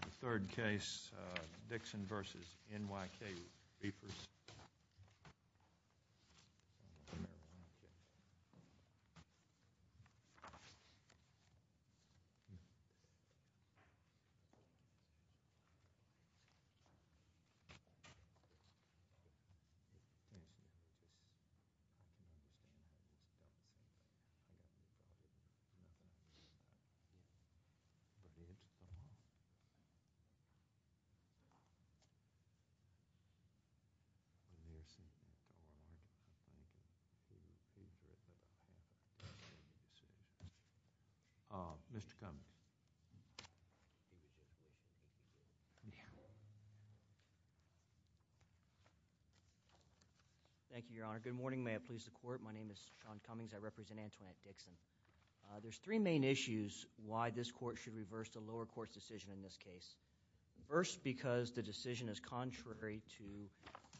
The third case, Dixon v. NYK Reefers. Mr. Cummings, please come down. Thank you, Your Honor. Good morning. May it please the Court. My name is Sean Cummings. I represent Antoinette Dixon. There's three main issues why this Court should reverse the lower court's decision in this case. First, because the decision is contrary to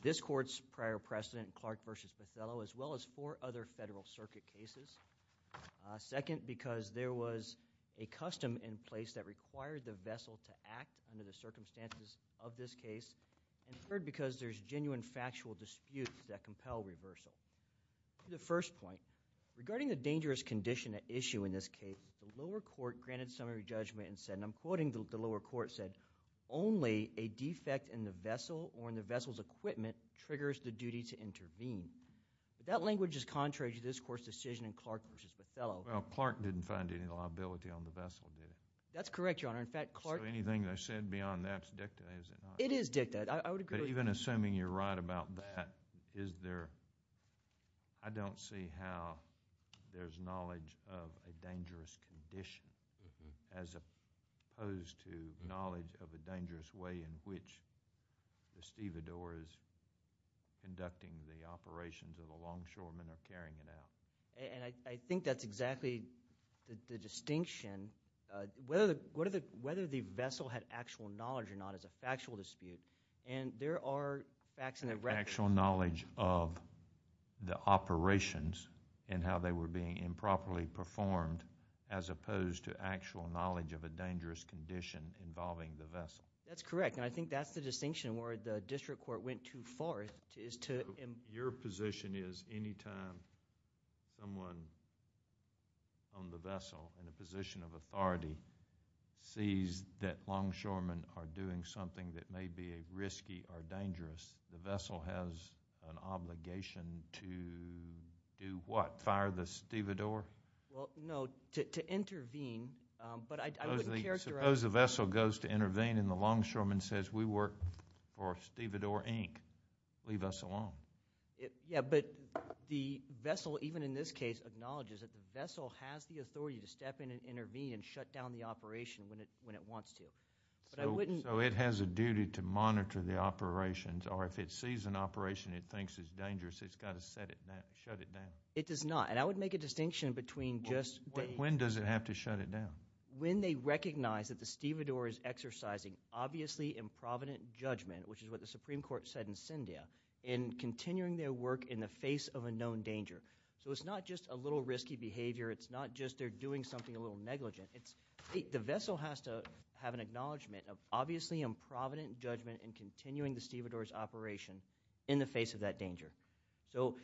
this Court's prior precedent, Clark v. Bethello, as well as four other Federal Circuit cases. Second, because there was a custom in place that required the vessel to act under the circumstances of this case. And third, because there's genuine factual disputes that compel reversal. To the first point, regarding the dangerous condition at issue in this case, the lower court granted summary judgment and said, and I'm quoting the lower court, said, only a defect in the vessel or in the vessel's equipment triggers the duty to intervene. That language is contrary to this Court's decision in Clark v. Bethello. Well, Clark didn't find any liability on the vessel, did he? That's correct, Your Honor. In fact, Clark So anything I said beyond that's dicta, is it not? It is dicta. I would agree with you. Even assuming you're right about that, I don't see how there's knowledge of a dangerous condition as opposed to knowledge of a dangerous way in which the stevedores conducting the operations of the longshoremen are carrying it out. And I think that's exactly the distinction. Whether the vessel had actual knowledge or not is a factual dispute. And there are facts in the record... Actual knowledge of the operations and how they were being improperly performed as opposed to actual knowledge of a dangerous condition involving the vessel. That's correct. And I think that's the distinction where the district court went too far is to... Your position is anytime someone on the vessel in a position of authority sees that longshoremen are doing something that may be risky or dangerous, the vessel has an obligation to do what? Fire the stevedore? Well, no. To intervene. But I would characterize... Suppose the vessel goes to intervene and the longshoreman says, We work for Stevedore, Inc. Leave us alone. Yeah, but the vessel, even in this case, acknowledges that the vessel has the authority to step in and intervene and shut down the operation when it wants to. But I wouldn't... So it has a duty to monitor the operations. Or if it sees an operation it thinks is dangerous, it's got to shut it down. It does not. And I would make a distinction between just... When does it have to shut it down? When they recognize that the stevedore is exercising obviously improvident judgment, which is what the Supreme Court said in Sendia, in continuing their work in the face of a known danger. So it's not just a little risky behavior. It's not just they're doing something a little negligent. The vessel has to have an acknowledgment of obviously improvident judgment in continuing the stevedore's operation in the face of that danger. So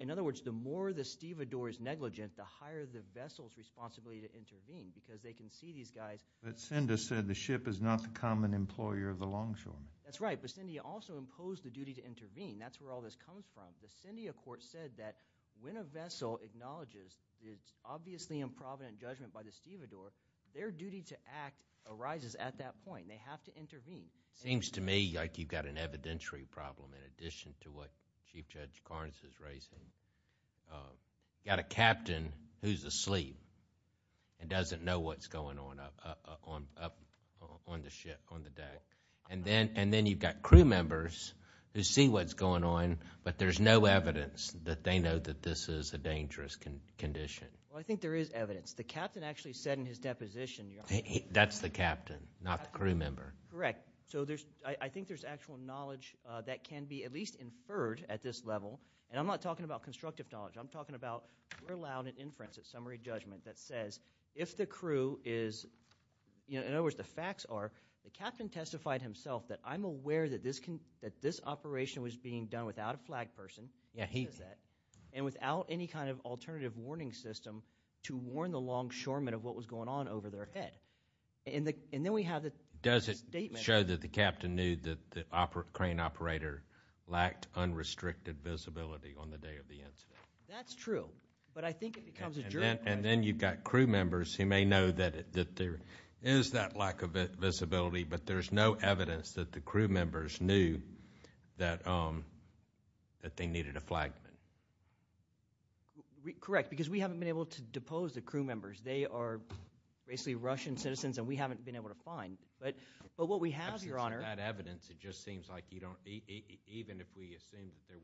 in other words, the more the stevedore is negligent, the higher the vessel's responsibility to intervene because they can see these guys... But Sendia said the ship is not the common employer of the longshoremen. That's right. But Sendia also imposed the duty to intervene. That's where all this comes from. The Sendia court said that when a vessel acknowledges it's obviously improvident judgment by the stevedore, their duty to act arises at that point. They have to intervene. It seems to me like you've got an evidentiary problem in addition to what Chief Judge Carnes is raising. You've got a captain who's asleep and doesn't know what's going on up on the deck. And then you've got crew members who see what's going on, but there's no evidence that they know that this is a dangerous condition. Well, I think there is evidence. The captain actually said in his deposition... That's the captain, not the crew member. Correct. So I think there's actual knowledge that can be at least inferred at this level. And I'm not talking about constructive knowledge. I'm talking about we're allowed an inference at summary judgment that says if the crew is... In other words, the facts are the captain testified himself that I'm aware that this operation was being done without a flag person. Yeah, he... And without any kind of alternative warning system to warn the longshoremen of what was going on over their head. And then we have the statement... That's true, but I think it becomes a jury question. And then you've got crew members who may know that there is that lack of visibility, but there's no evidence that the crew members knew that they needed a flagman. Correct, because we haven't been able to depose the crew members. They are basically Russian citizens, and we haven't been able to find. But what we have, Your Honor... Without evidence, it just seems like you don't... Even if we assume that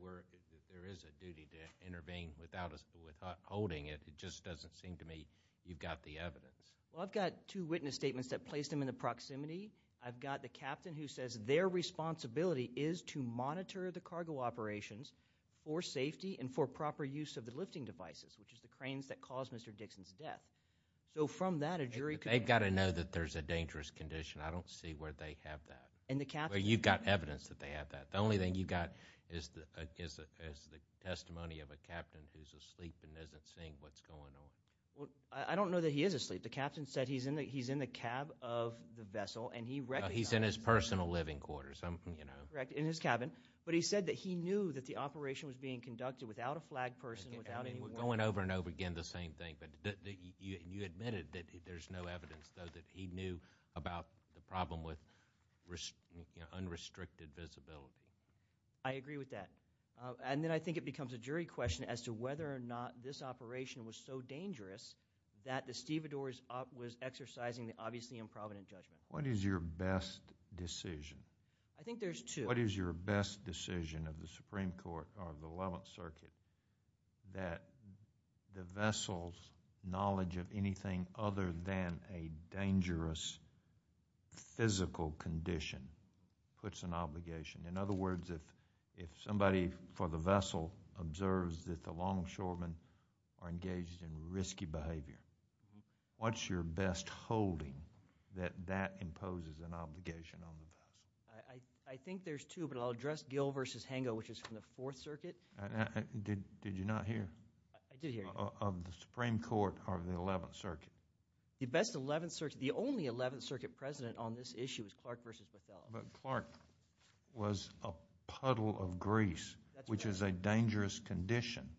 there is a duty to intervene without us withholding it, it just doesn't seem to me you've got the evidence. Well, I've got two witness statements that place them in the proximity. I've got the captain who says their responsibility is to monitor the cargo operations for safety and for proper use of the lifting devices, which is the cranes that caused Mr. Dixon's death. So from that, a jury... They've got to know that there's a dangerous condition. I don't see where they have that. You've got evidence that they have that. The only thing you've got is the testimony of a captain who's asleep and isn't seeing what's going on. I don't know that he is asleep. The captain said he's in the cab of the vessel, and he recognized... He's in his personal living quarters. Correct, in his cabin. But he said that he knew that the operation was being conducted without a flag person, without anyone. Going over and over again the same thing, but you admitted that there's no evidence, though, that he knew about the problem with unrestricted visibility. I agree with that. And then I think it becomes a jury question as to whether or not this operation was so dangerous that the stevedores was exercising the obviously improvident judgment. What is your best decision? I think there's two. What is your best decision of the Supreme Court or the Eleventh Circuit that the vessel's knowledge of anything other than a dangerous physical condition puts an obligation? In other words, if somebody for the vessel observes that the longshoremen are engaged in risky behavior, what's your best holding that that imposes an obligation on the vessel? I think there's two, but I'll address Gill v. Hango, which is from the Fourth Circuit. Did you not hear? I did hear. Of the Supreme Court or the Eleventh Circuit? The only Eleventh Circuit president on this issue is Clark v. Bethel. But Clark was a puddle of grease, which is a dangerous condition,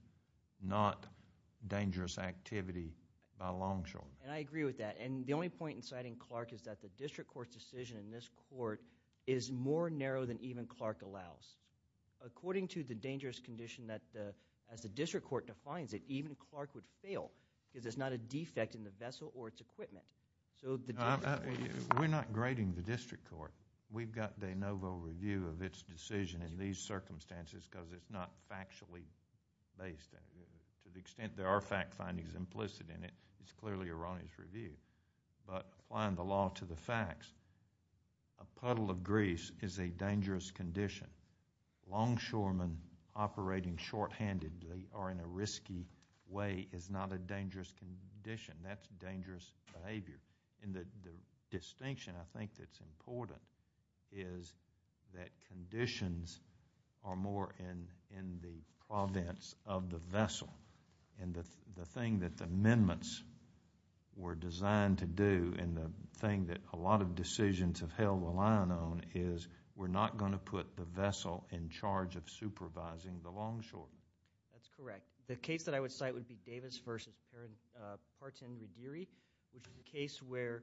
not dangerous activity by longshoremen. And I agree with that. And the only point in citing Clark is that the district court's decision in this court is more narrow than even Clark allows. According to the dangerous condition, as the district court defines it, even Clark would fail because there's not a defect in the vessel or its equipment. We're not grading the district court. We've got de novo review of its decision in these circumstances because it's not factually based. To the extent there are fact findings implicit in it, it's clearly Iran's review. But applying the law to the facts, a puddle of grease is a dangerous condition. Longshoremen operating shorthandedly or in a risky way is not a dangerous condition. That's dangerous behavior. And the distinction I think that's important is that conditions are more in the province of the vessel. And the thing that the amendments were designed to do and the thing that a lot of decisions have held the line on is we're not going to put the vessel in charge of supervising the longshoremen. That's correct. The case that I would cite would be Davis v. Partin-Rudiri, which is a case where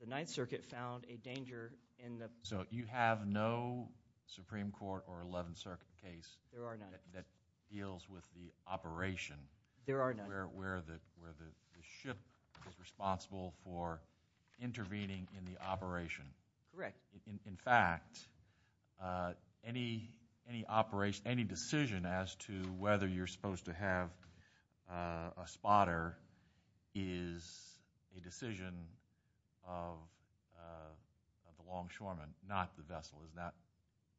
the Ninth Circuit found a danger in the- So you have no Supreme Court or Eleventh Circuit case- There are none. that deals with the operation- There are none. where the ship is responsible for intervening in the operation. Correct. In fact, any decision as to whether you're supposed to have a spotter is a decision of the longshoremen, not the vessel.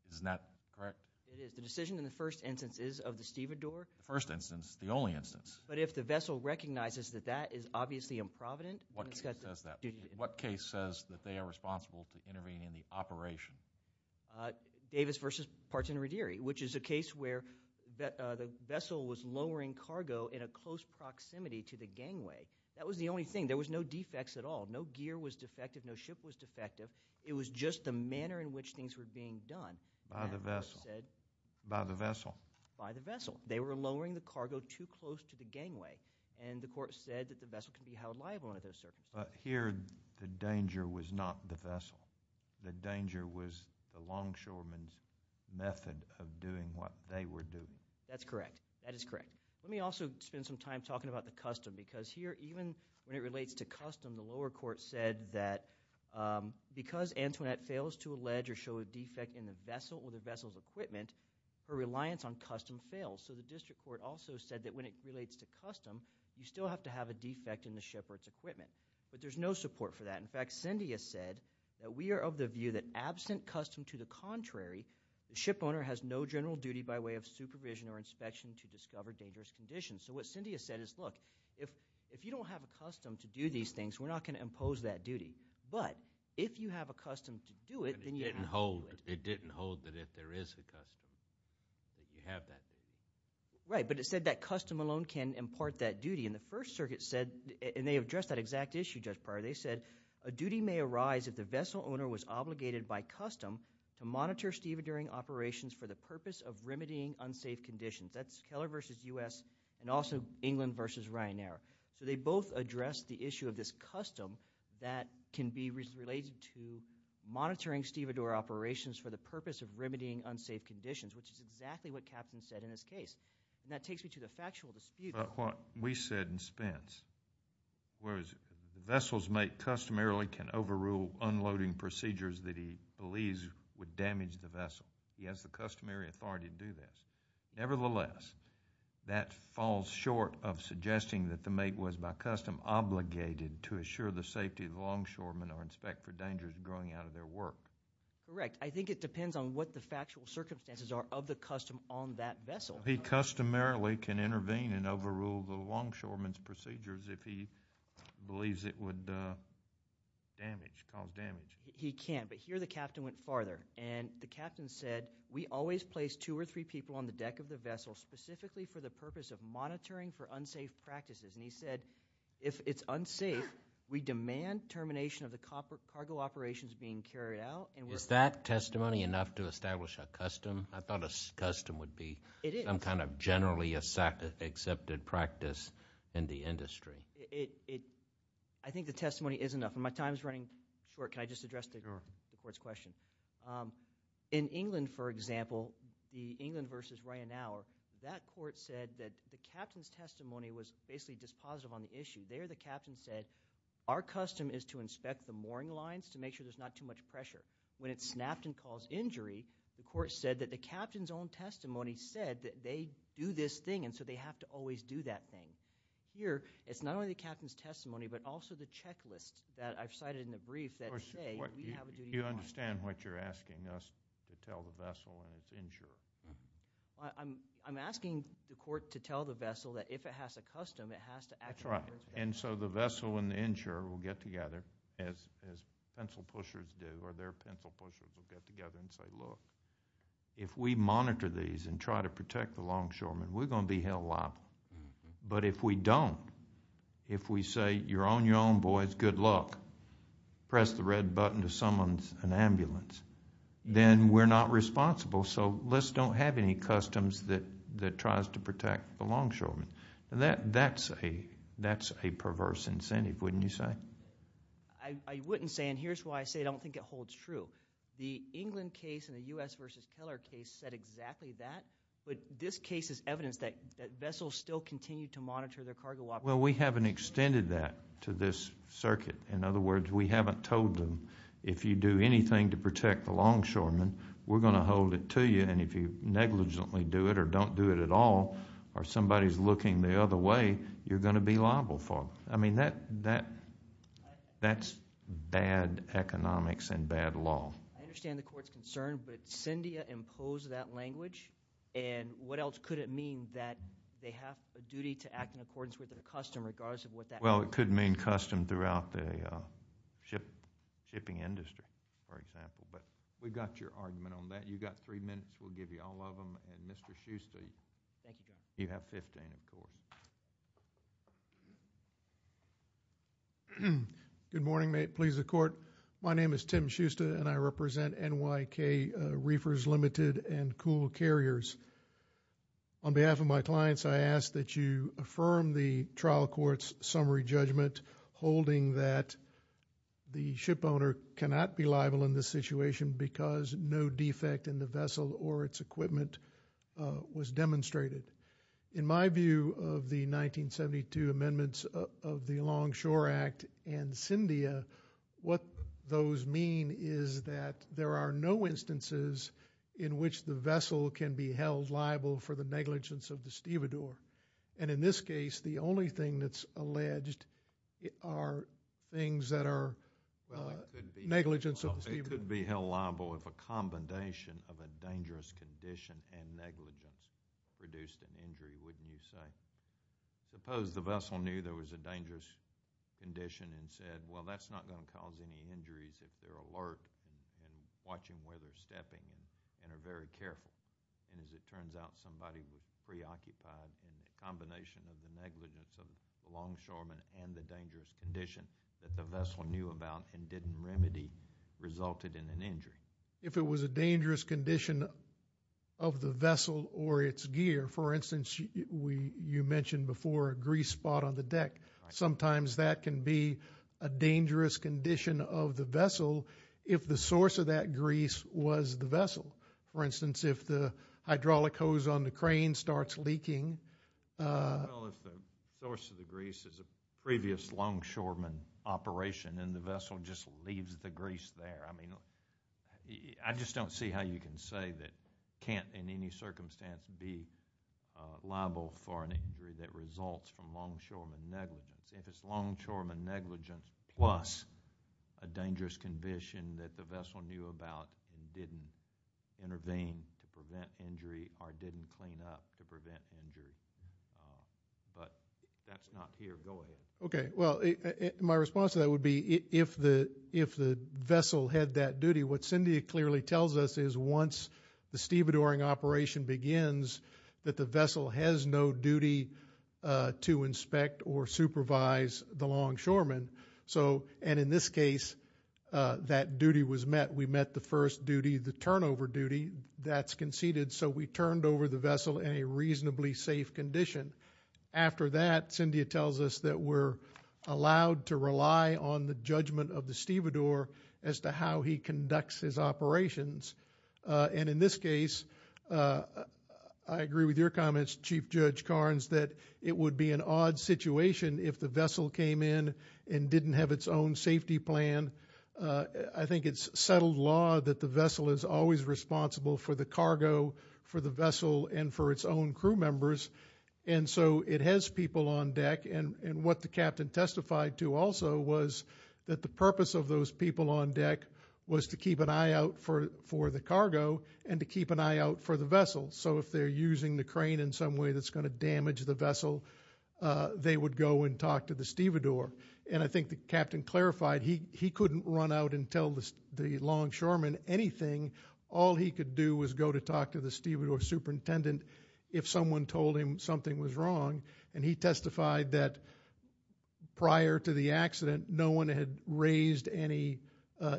Isn't that correct? It is. The decision in the first instance is of the stevedore. The first instance, the only instance. But if the vessel recognizes that that is obviously improvident- What case says that? that they are responsible to intervene in the operation? Davis v. Partin-Rudiri, which is a case where the vessel was lowering cargo in a close proximity to the gangway. That was the only thing. There was no defects at all. No gear was defective. No ship was defective. It was just the manner in which things were being done. By the vessel. By the vessel. By the vessel. They were lowering the cargo too close to the gangway, and the court said that the vessel could be held liable under those circumstances. Here, the danger was not the vessel. The danger was the longshoremen's method of doing what they were doing. That's correct. That is correct. Let me also spend some time talking about the custom, because here, even when it relates to custom, the lower court said that because Antoinette fails to allege or show a defect in the vessel or the vessel's equipment, her reliance on custom fails. The district court also said that when it relates to custom, you still have to have a defect in the ship or its equipment. But there's no support for that. In fact, Cyndia said that we are of the view that absent custom to the contrary, the shipowner has no general duty by way of supervision or inspection to discover dangerous conditions. So what Cyndia said is, look, if you don't have a custom to do these things, we're not going to impose that duty. But if you have a custom to do it, then you can hold it. It didn't hold that if there is a custom, that you have that duty. Right, but it said that custom alone can impart that duty. And the First Circuit said, and they addressed that exact issue just prior. They said, a duty may arise if the vessel owner was obligated by custom to monitor stevedoring operations for the purpose of remedying unsafe conditions. That's Keller versus U.S. and also England versus Ryanair. So they both addressed the issue of this custom that can be related to monitoring stevedore operations for the purpose of remedying unsafe conditions, which is exactly what Captain said in this case. And that takes me to the factual dispute. But what we said in Spence was, the vessel's mate customarily can overrule unloading procedures that he believes would damage the vessel. He has the customary authority to do this. Nevertheless, that falls short of suggesting that the mate was by custom obligated to assure the safety of the longshoremen or inspect for dangers growing out of their work. Correct. I think it depends on what the factual circumstances are of the custom on that vessel. He customarily can intervene and overrule the longshoremen's procedures if he believes it would damage, cause damage. He can, but here the captain went farther. And the captain said, we always place two or three people on the deck of the vessel specifically for the purpose of monitoring for unsafe practices. And he said, if it's unsafe, we demand termination of the cargo operations being carried out. Is that testimony enough to establish a custom? I thought a custom would be some kind of generally accepted practice in the industry. I think the testimony is enough. My time is running short. Can I just address the Court's question? In England, for example, the England v. Ryan Al, that Court said that the captain's testimony was basically dispositive on the issue. There, the captain said, our custom is to inspect the mooring lines to make sure there's not too much pressure. When it snapped and caused injury, the Court said that the captain's own testimony said that they do this thing, and so they have to always do that thing. Here, it's not only the captain's testimony, but also the checklist that I've cited in the brief that say we have a duty to monitor. You understand what you're asking us to tell the vessel when it's injured? I'm asking the Court to tell the vessel that if it has a custom, it has to actually do its job. And so the vessel and the insurer will get together, as pencil pushers do, or their pencil pushers will get together and say, look, if we monitor these and try to protect the longshoremen, we're going to be held liable. But if we don't, if we say, you're on your own, boys, good luck, press the red button to summon an ambulance, then we're not responsible, so let's don't have any customs that tries to protect the longshoremen. That's a perverse incentive, wouldn't you say? I wouldn't say, and here's why I say I don't think it holds true. The England case and the U.S. v. Keller case said exactly that, but this case is evidence that vessels still continue to monitor their cargo operations. Well, we haven't extended that to this circuit. In other words, we haven't told them if you do anything to protect the longshoremen, we're going to hold it to you, and if you negligently do it or don't do it at all or somebody's looking the other way, you're going to be liable for it. I mean, that's bad economics and bad law. I understand the court's concern, but CINDIA imposed that language, and what else could it mean that they have a duty to act in accordance with a custom regardless of what that means? Well, it could mean custom throughout the shipping industry, for example. But we've got your argument on that. You've got three minutes. We'll give you all of them. And Mr. Schuster, you have 15, of course. Good morning. May it please the Court. My name is Tim Schuster, and I represent NYK Reefers Limited and Cool Carriers. On behalf of my clients, I ask that you affirm the trial court's summary judgment holding that the shipowner cannot be liable in this situation because no defect in the vessel or its equipment was demonstrated. In my view of the 1972 amendments of the Longshore Act and CINDIA, what those mean is that there are no instances in which the vessel can be held liable for the negligence of the stevedore. And in this case, the only thing that's alleged are things that are negligence of the stevedore. You could be held liable if a combination of a dangerous condition and negligence produced an injury, wouldn't you say? Suppose the vessel knew there was a dangerous condition and said, well, that's not going to cause any injuries if they're alert and watching where they're stepping and are very careful. And as it turns out, somebody was preoccupied in the combination of the negligence of the longshoreman and the dangerous condition that the vessel knew about and didn't remedy resulted in an injury. If it was a dangerous condition of the vessel or its gear, for instance, you mentioned before a grease spot on the deck. Sometimes that can be a dangerous condition of the vessel if the source of that grease was the vessel. For instance, if the hydraulic hose on the crane starts leaking. Well, if the source of the grease is a previous longshoreman operation and the vessel just leaves the grease there. I mean, I just don't see how you can say that can't in any circumstance be liable for an injury that results from longshoreman negligence. If it's longshoreman negligence plus a dangerous condition that the vessel knew about and didn't intervene to prevent injury or didn't clean up to prevent injury. But that's not here. Go ahead. Okay. Well, my response to that would be if the vessel had that duty, what Cindy clearly tells us is once the stevedoring operation begins, that the vessel has no duty to inspect or supervise the longshoreman. And in this case, that duty was met. We met the first duty, the turnover duty that's conceded. So we turned over the vessel in a reasonably safe condition. After that, Cindy tells us that we're allowed to rely on the judgment of the stevedore as to how he conducts his operations. And in this case, I agree with your comments, Chief Judge Carnes, that it would be an odd situation if the vessel came in and didn't have its own safety plan. I think it's settled law that the vessel is always responsible for the cargo, for the vessel, and for its own crew members. And so it has people on deck. And what the captain testified to also was that the purpose of those people on deck was to keep an eye out for the cargo and to keep an eye out for the vessel. So if they're using the crane in some way that's going to damage the vessel, they would go and talk to the stevedore. And I think the captain clarified he couldn't run out and tell the longshoreman anything. All he could do was go to talk to the stevedore superintendent if someone told him something was wrong. And he testified that prior to the accident, no one had raised any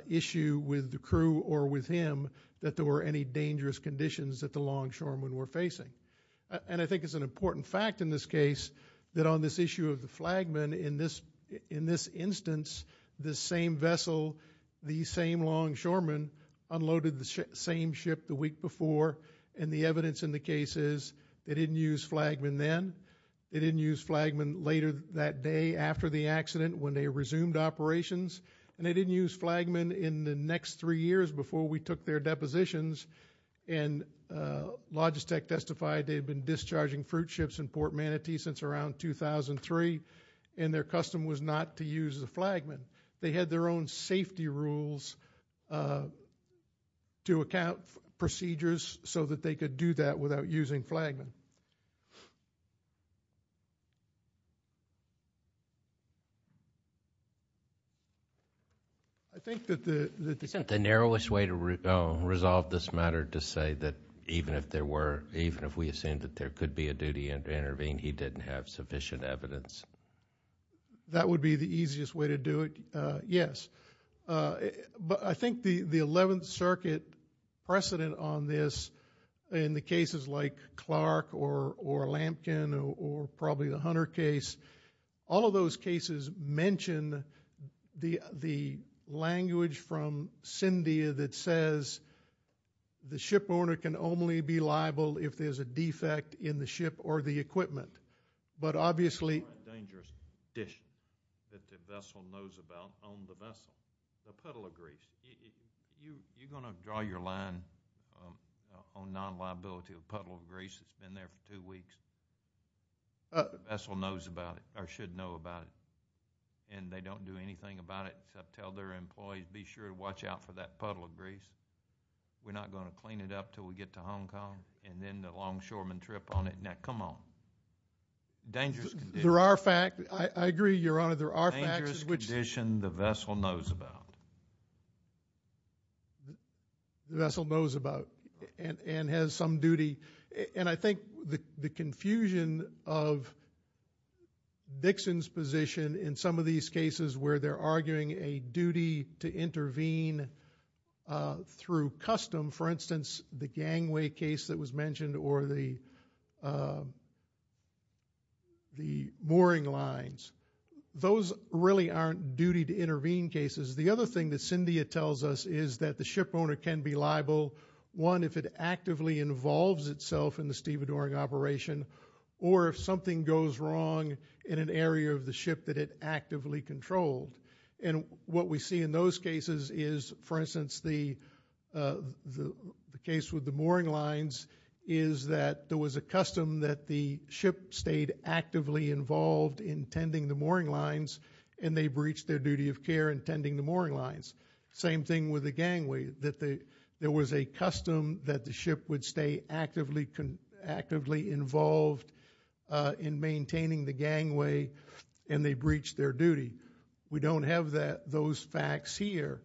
issue with the crew or with him that there were any dangerous conditions that the longshoremen were facing. And I think it's an important fact in this case that on this issue of the flagman, in this instance the same vessel, the same longshoreman, unloaded the same ship the week before. And the evidence in the case is they didn't use flagman then, they didn't use flagman later that day after the accident when they resumed operations, and they didn't use flagman in the next three years before we took their depositions. And Logistec testified they had been discharging fruit ships in Port Manatee since around 2003, and their custom was not to use the flagman. They had their own safety rules to account procedures so that they could do that without using flagman. Isn't the narrowest way to resolve this matter to say that even if there were, even if we assumed that there could be a duty and intervene, he didn't have sufficient evidence? That would be the easiest way to do it, yes. But I think the 11th Circuit precedent on this, in the cases like Clark or Lampkin or probably the Hunter case, all of those cases mention the language from Cyndia that says the shipowner can only be liable if there's a defect in the ship or the equipment. It's a dangerous dish that the vessel knows about on the vessel, the puddle of grease. You're going to draw your line on non-liability of puddle of grease that's been there for two weeks? The vessel knows about it or should know about it, and they don't do anything about it except tell their employees, be sure to watch out for that puddle of grease. We're not going to clean it up until we get to Hong Kong, and then the long shoreman trip on it. Now, come on. Dangerous condition. There are facts. I agree, Your Honor. There are facts. Dangerous condition the vessel knows about. The vessel knows about and has some duty. And I think the confusion of Dixon's position in some of these cases where they're arguing a duty to intervene through custom, for instance, the gangway case that was mentioned or the mooring lines. Those really aren't duty to intervene cases. The other thing that Cyndia tells us is that the ship owner can be liable, one, if it actively involves itself in the stevedoring operation, or if something goes wrong in an area of the ship that it actively controlled. And what we see in those cases is, for instance, the case with the mooring lines, is that there was a custom that the ship stayed actively involved in tending the mooring lines and they breached their duty of care in tending the mooring lines. Same thing with the gangway, that there was a custom that the ship would stay actively involved in maintaining the gangway and they breached their duty. We don't have those facts here.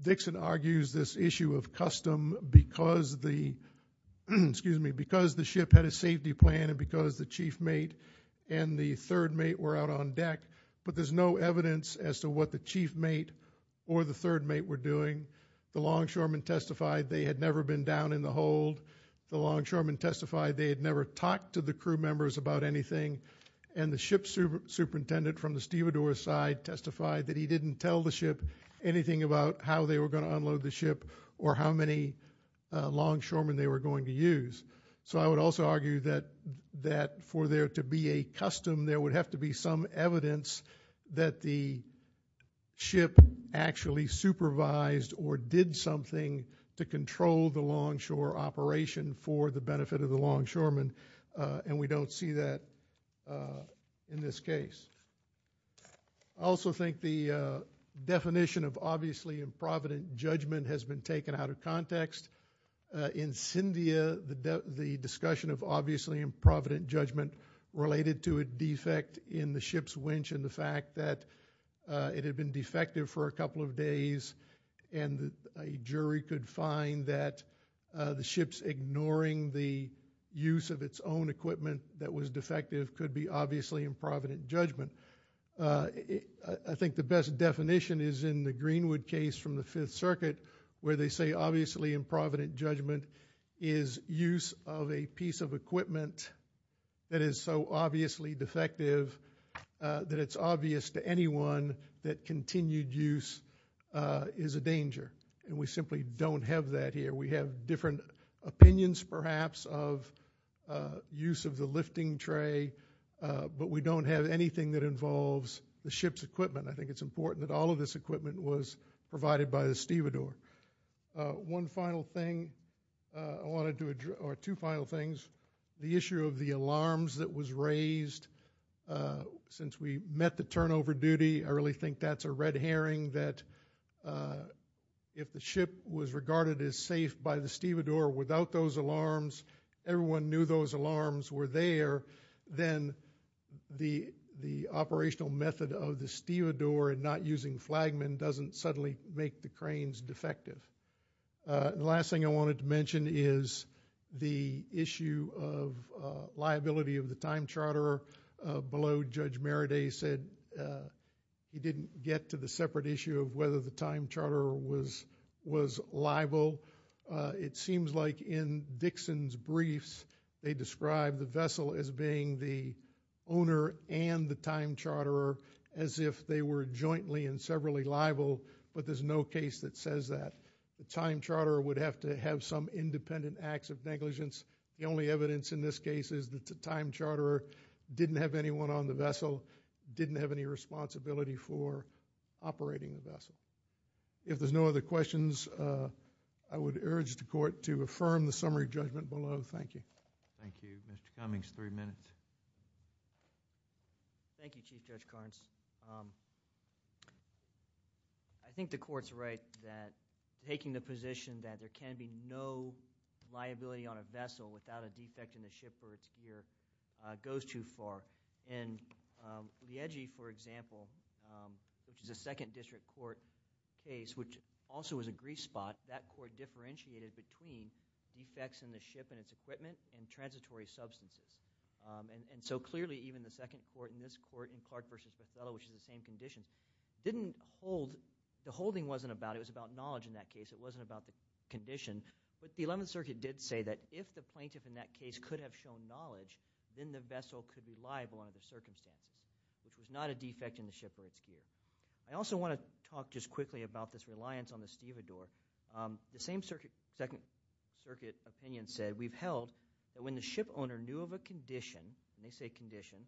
Dixon argues this issue of custom because the ship had a safety plan and because the chief mate and the third mate were out on deck, but there's no evidence as to what the chief mate or the third mate were doing. The longshoremen testified they had never been down in the hold. The longshoremen testified they had never talked to the crew members about anything. And the ship superintendent from the stevedore side testified that he didn't tell the ship anything about how they were going to unload the ship or how many longshoremen they were going to use. So I would also argue that for there to be a custom, there would have to be some evidence that the ship actually supervised or did something to control the longshore operation for the benefit of the longshoremen, and we don't see that in this case. I also think the definition of obviously improvident judgment has been taken out of context. In Cyndia, the discussion of obviously improvident judgment related to a defect in the ship's winch and the fact that it had been defective for a couple of days and a jury could find that the ship's ignoring the use of its own equipment that was defective could be obviously improvident judgment. I think the best definition is in the Greenwood case from the Fifth Circuit where they say obviously improvident judgment is use of a piece of equipment that is so obviously defective that it's obvious to anyone that continued use is a danger, and we simply don't have that here. We have different opinions perhaps of use of the lifting tray, but we don't have anything that involves the ship's equipment. I think it's important that all of this equipment was provided by the stevedore. One final thing I want to do or two final things. The issue of the alarms that was raised since we met the turnover duty. I really think that's a red herring that if the ship was regarded as safe by the stevedore without those alarms, everyone knew those alarms were there, then the operational method of the stevedore and not using flagmen doesn't suddenly make the cranes defective. The last thing I wanted to mention is the issue of liability of the time charter. Below, Judge Meraday said he didn't get to the separate issue of whether the time charter was liable. It seems like in Dixon's briefs they described the vessel as being the owner and the time charter as if they were jointly and severally liable, but there's no case that says that. The time charter would have to have some independent acts of negligence. The only evidence in this case is that the time charter didn't have anyone on the vessel, didn't have any responsibility for operating the vessel. If there's no other questions, I would urge the court to affirm the summary judgment below. Thank you. Thank you. Mr. Cummings, three minutes. Thank you, Chief Judge Carnes. I think the court's right that taking the position that there can be no liability on a vessel without a defect in the ship or its gear goes too far. In Liegi, for example, which is a second district court case which also was a grief spot, that court differentiated between defects in the ship and its equipment and transitory substances. So clearly even the second court in this court in Clark v. Bethel, which is the same condition, the holding wasn't about it. It was about knowledge in that case. It wasn't about the condition, but the Eleventh Circuit did say that if the plaintiff in that case could have shown knowledge, then the vessel could be liable under the circumstance, which was not a defect in the ship or its gear. I also want to talk just quickly about this reliance on the stevedore. The same Second Circuit opinion said, we've held that when the ship owner knew of a condition, and they say condition,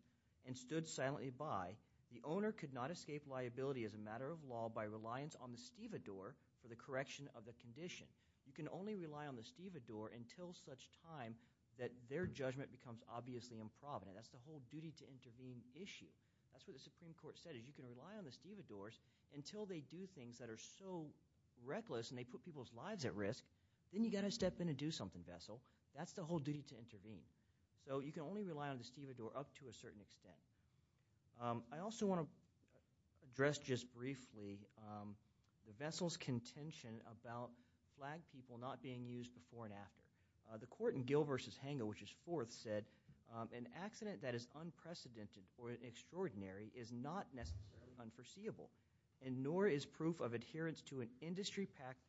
and stood silently by, the owner could not escape liability as a matter of law by reliance on the stevedore for the correction of the condition. You can only rely on the stevedore until such time that their judgment becomes obviously improvident. That's the whole duty to intervene issue. That's what the Supreme Court said is you can rely on the stevedores until they do things that are so reckless and they put people's lives at risk. Then you've got to step in and do something, Vessel. That's the whole duty to intervene. So you can only rely on the stevedore up to a certain extent. I also want to address just briefly the vessel's contention about flag people not being used before and after. The court in Gill v. Hanga, which is fourth, said, an accident that is unprecedented or extraordinary is not necessarily unforeseeable, and nor is proof of adherence to an industry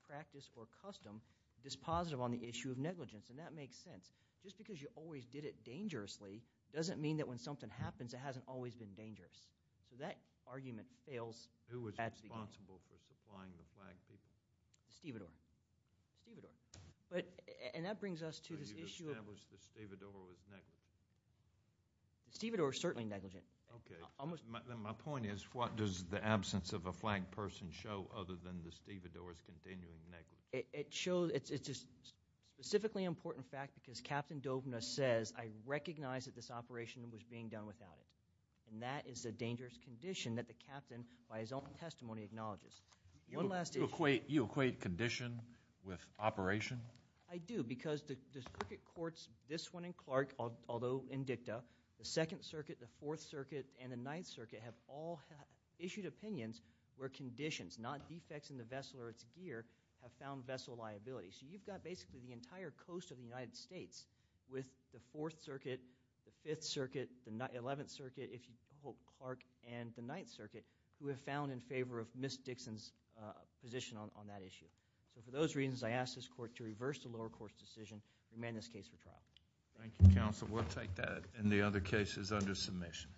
practice or custom dispositive on the issue of negligence. And that makes sense. Just because you always did it dangerously doesn't mean that when something happens, it hasn't always been dangerous. So that argument fails. Who was responsible for supplying the flag people? The stevedore. The stevedore. And that brings us to this issue of— So you've established the stevedore is negligent. The stevedore is certainly negligent. Okay. Then my point is what does the absence of a flag person show other than the stevedore is continually negligent? It's a specifically important fact because Captain Dovna says, I recognize that this operation was being done without it, and that is a dangerous condition that the captain, by his own testimony, acknowledges. One last issue. You equate condition with operation? I do because the circuit courts, this one and Clark, although in dicta, the Second Circuit, the Fourth Circuit, and the Ninth Circuit have all issued opinions where conditions, not defects in the vessel or its gear, have found vessel liability. So you've got basically the entire coast of the United States with the Fourth Circuit, the Fifth Circuit, the Eleventh Circuit, Clark, and the Ninth Circuit who have found in favor of Ms. Dixon's position on that issue. So for those reasons, I ask this court to reverse the lower court's decision and amend this case for trial. Thank you, counsel. We'll take that and the other cases under submission. Thank you.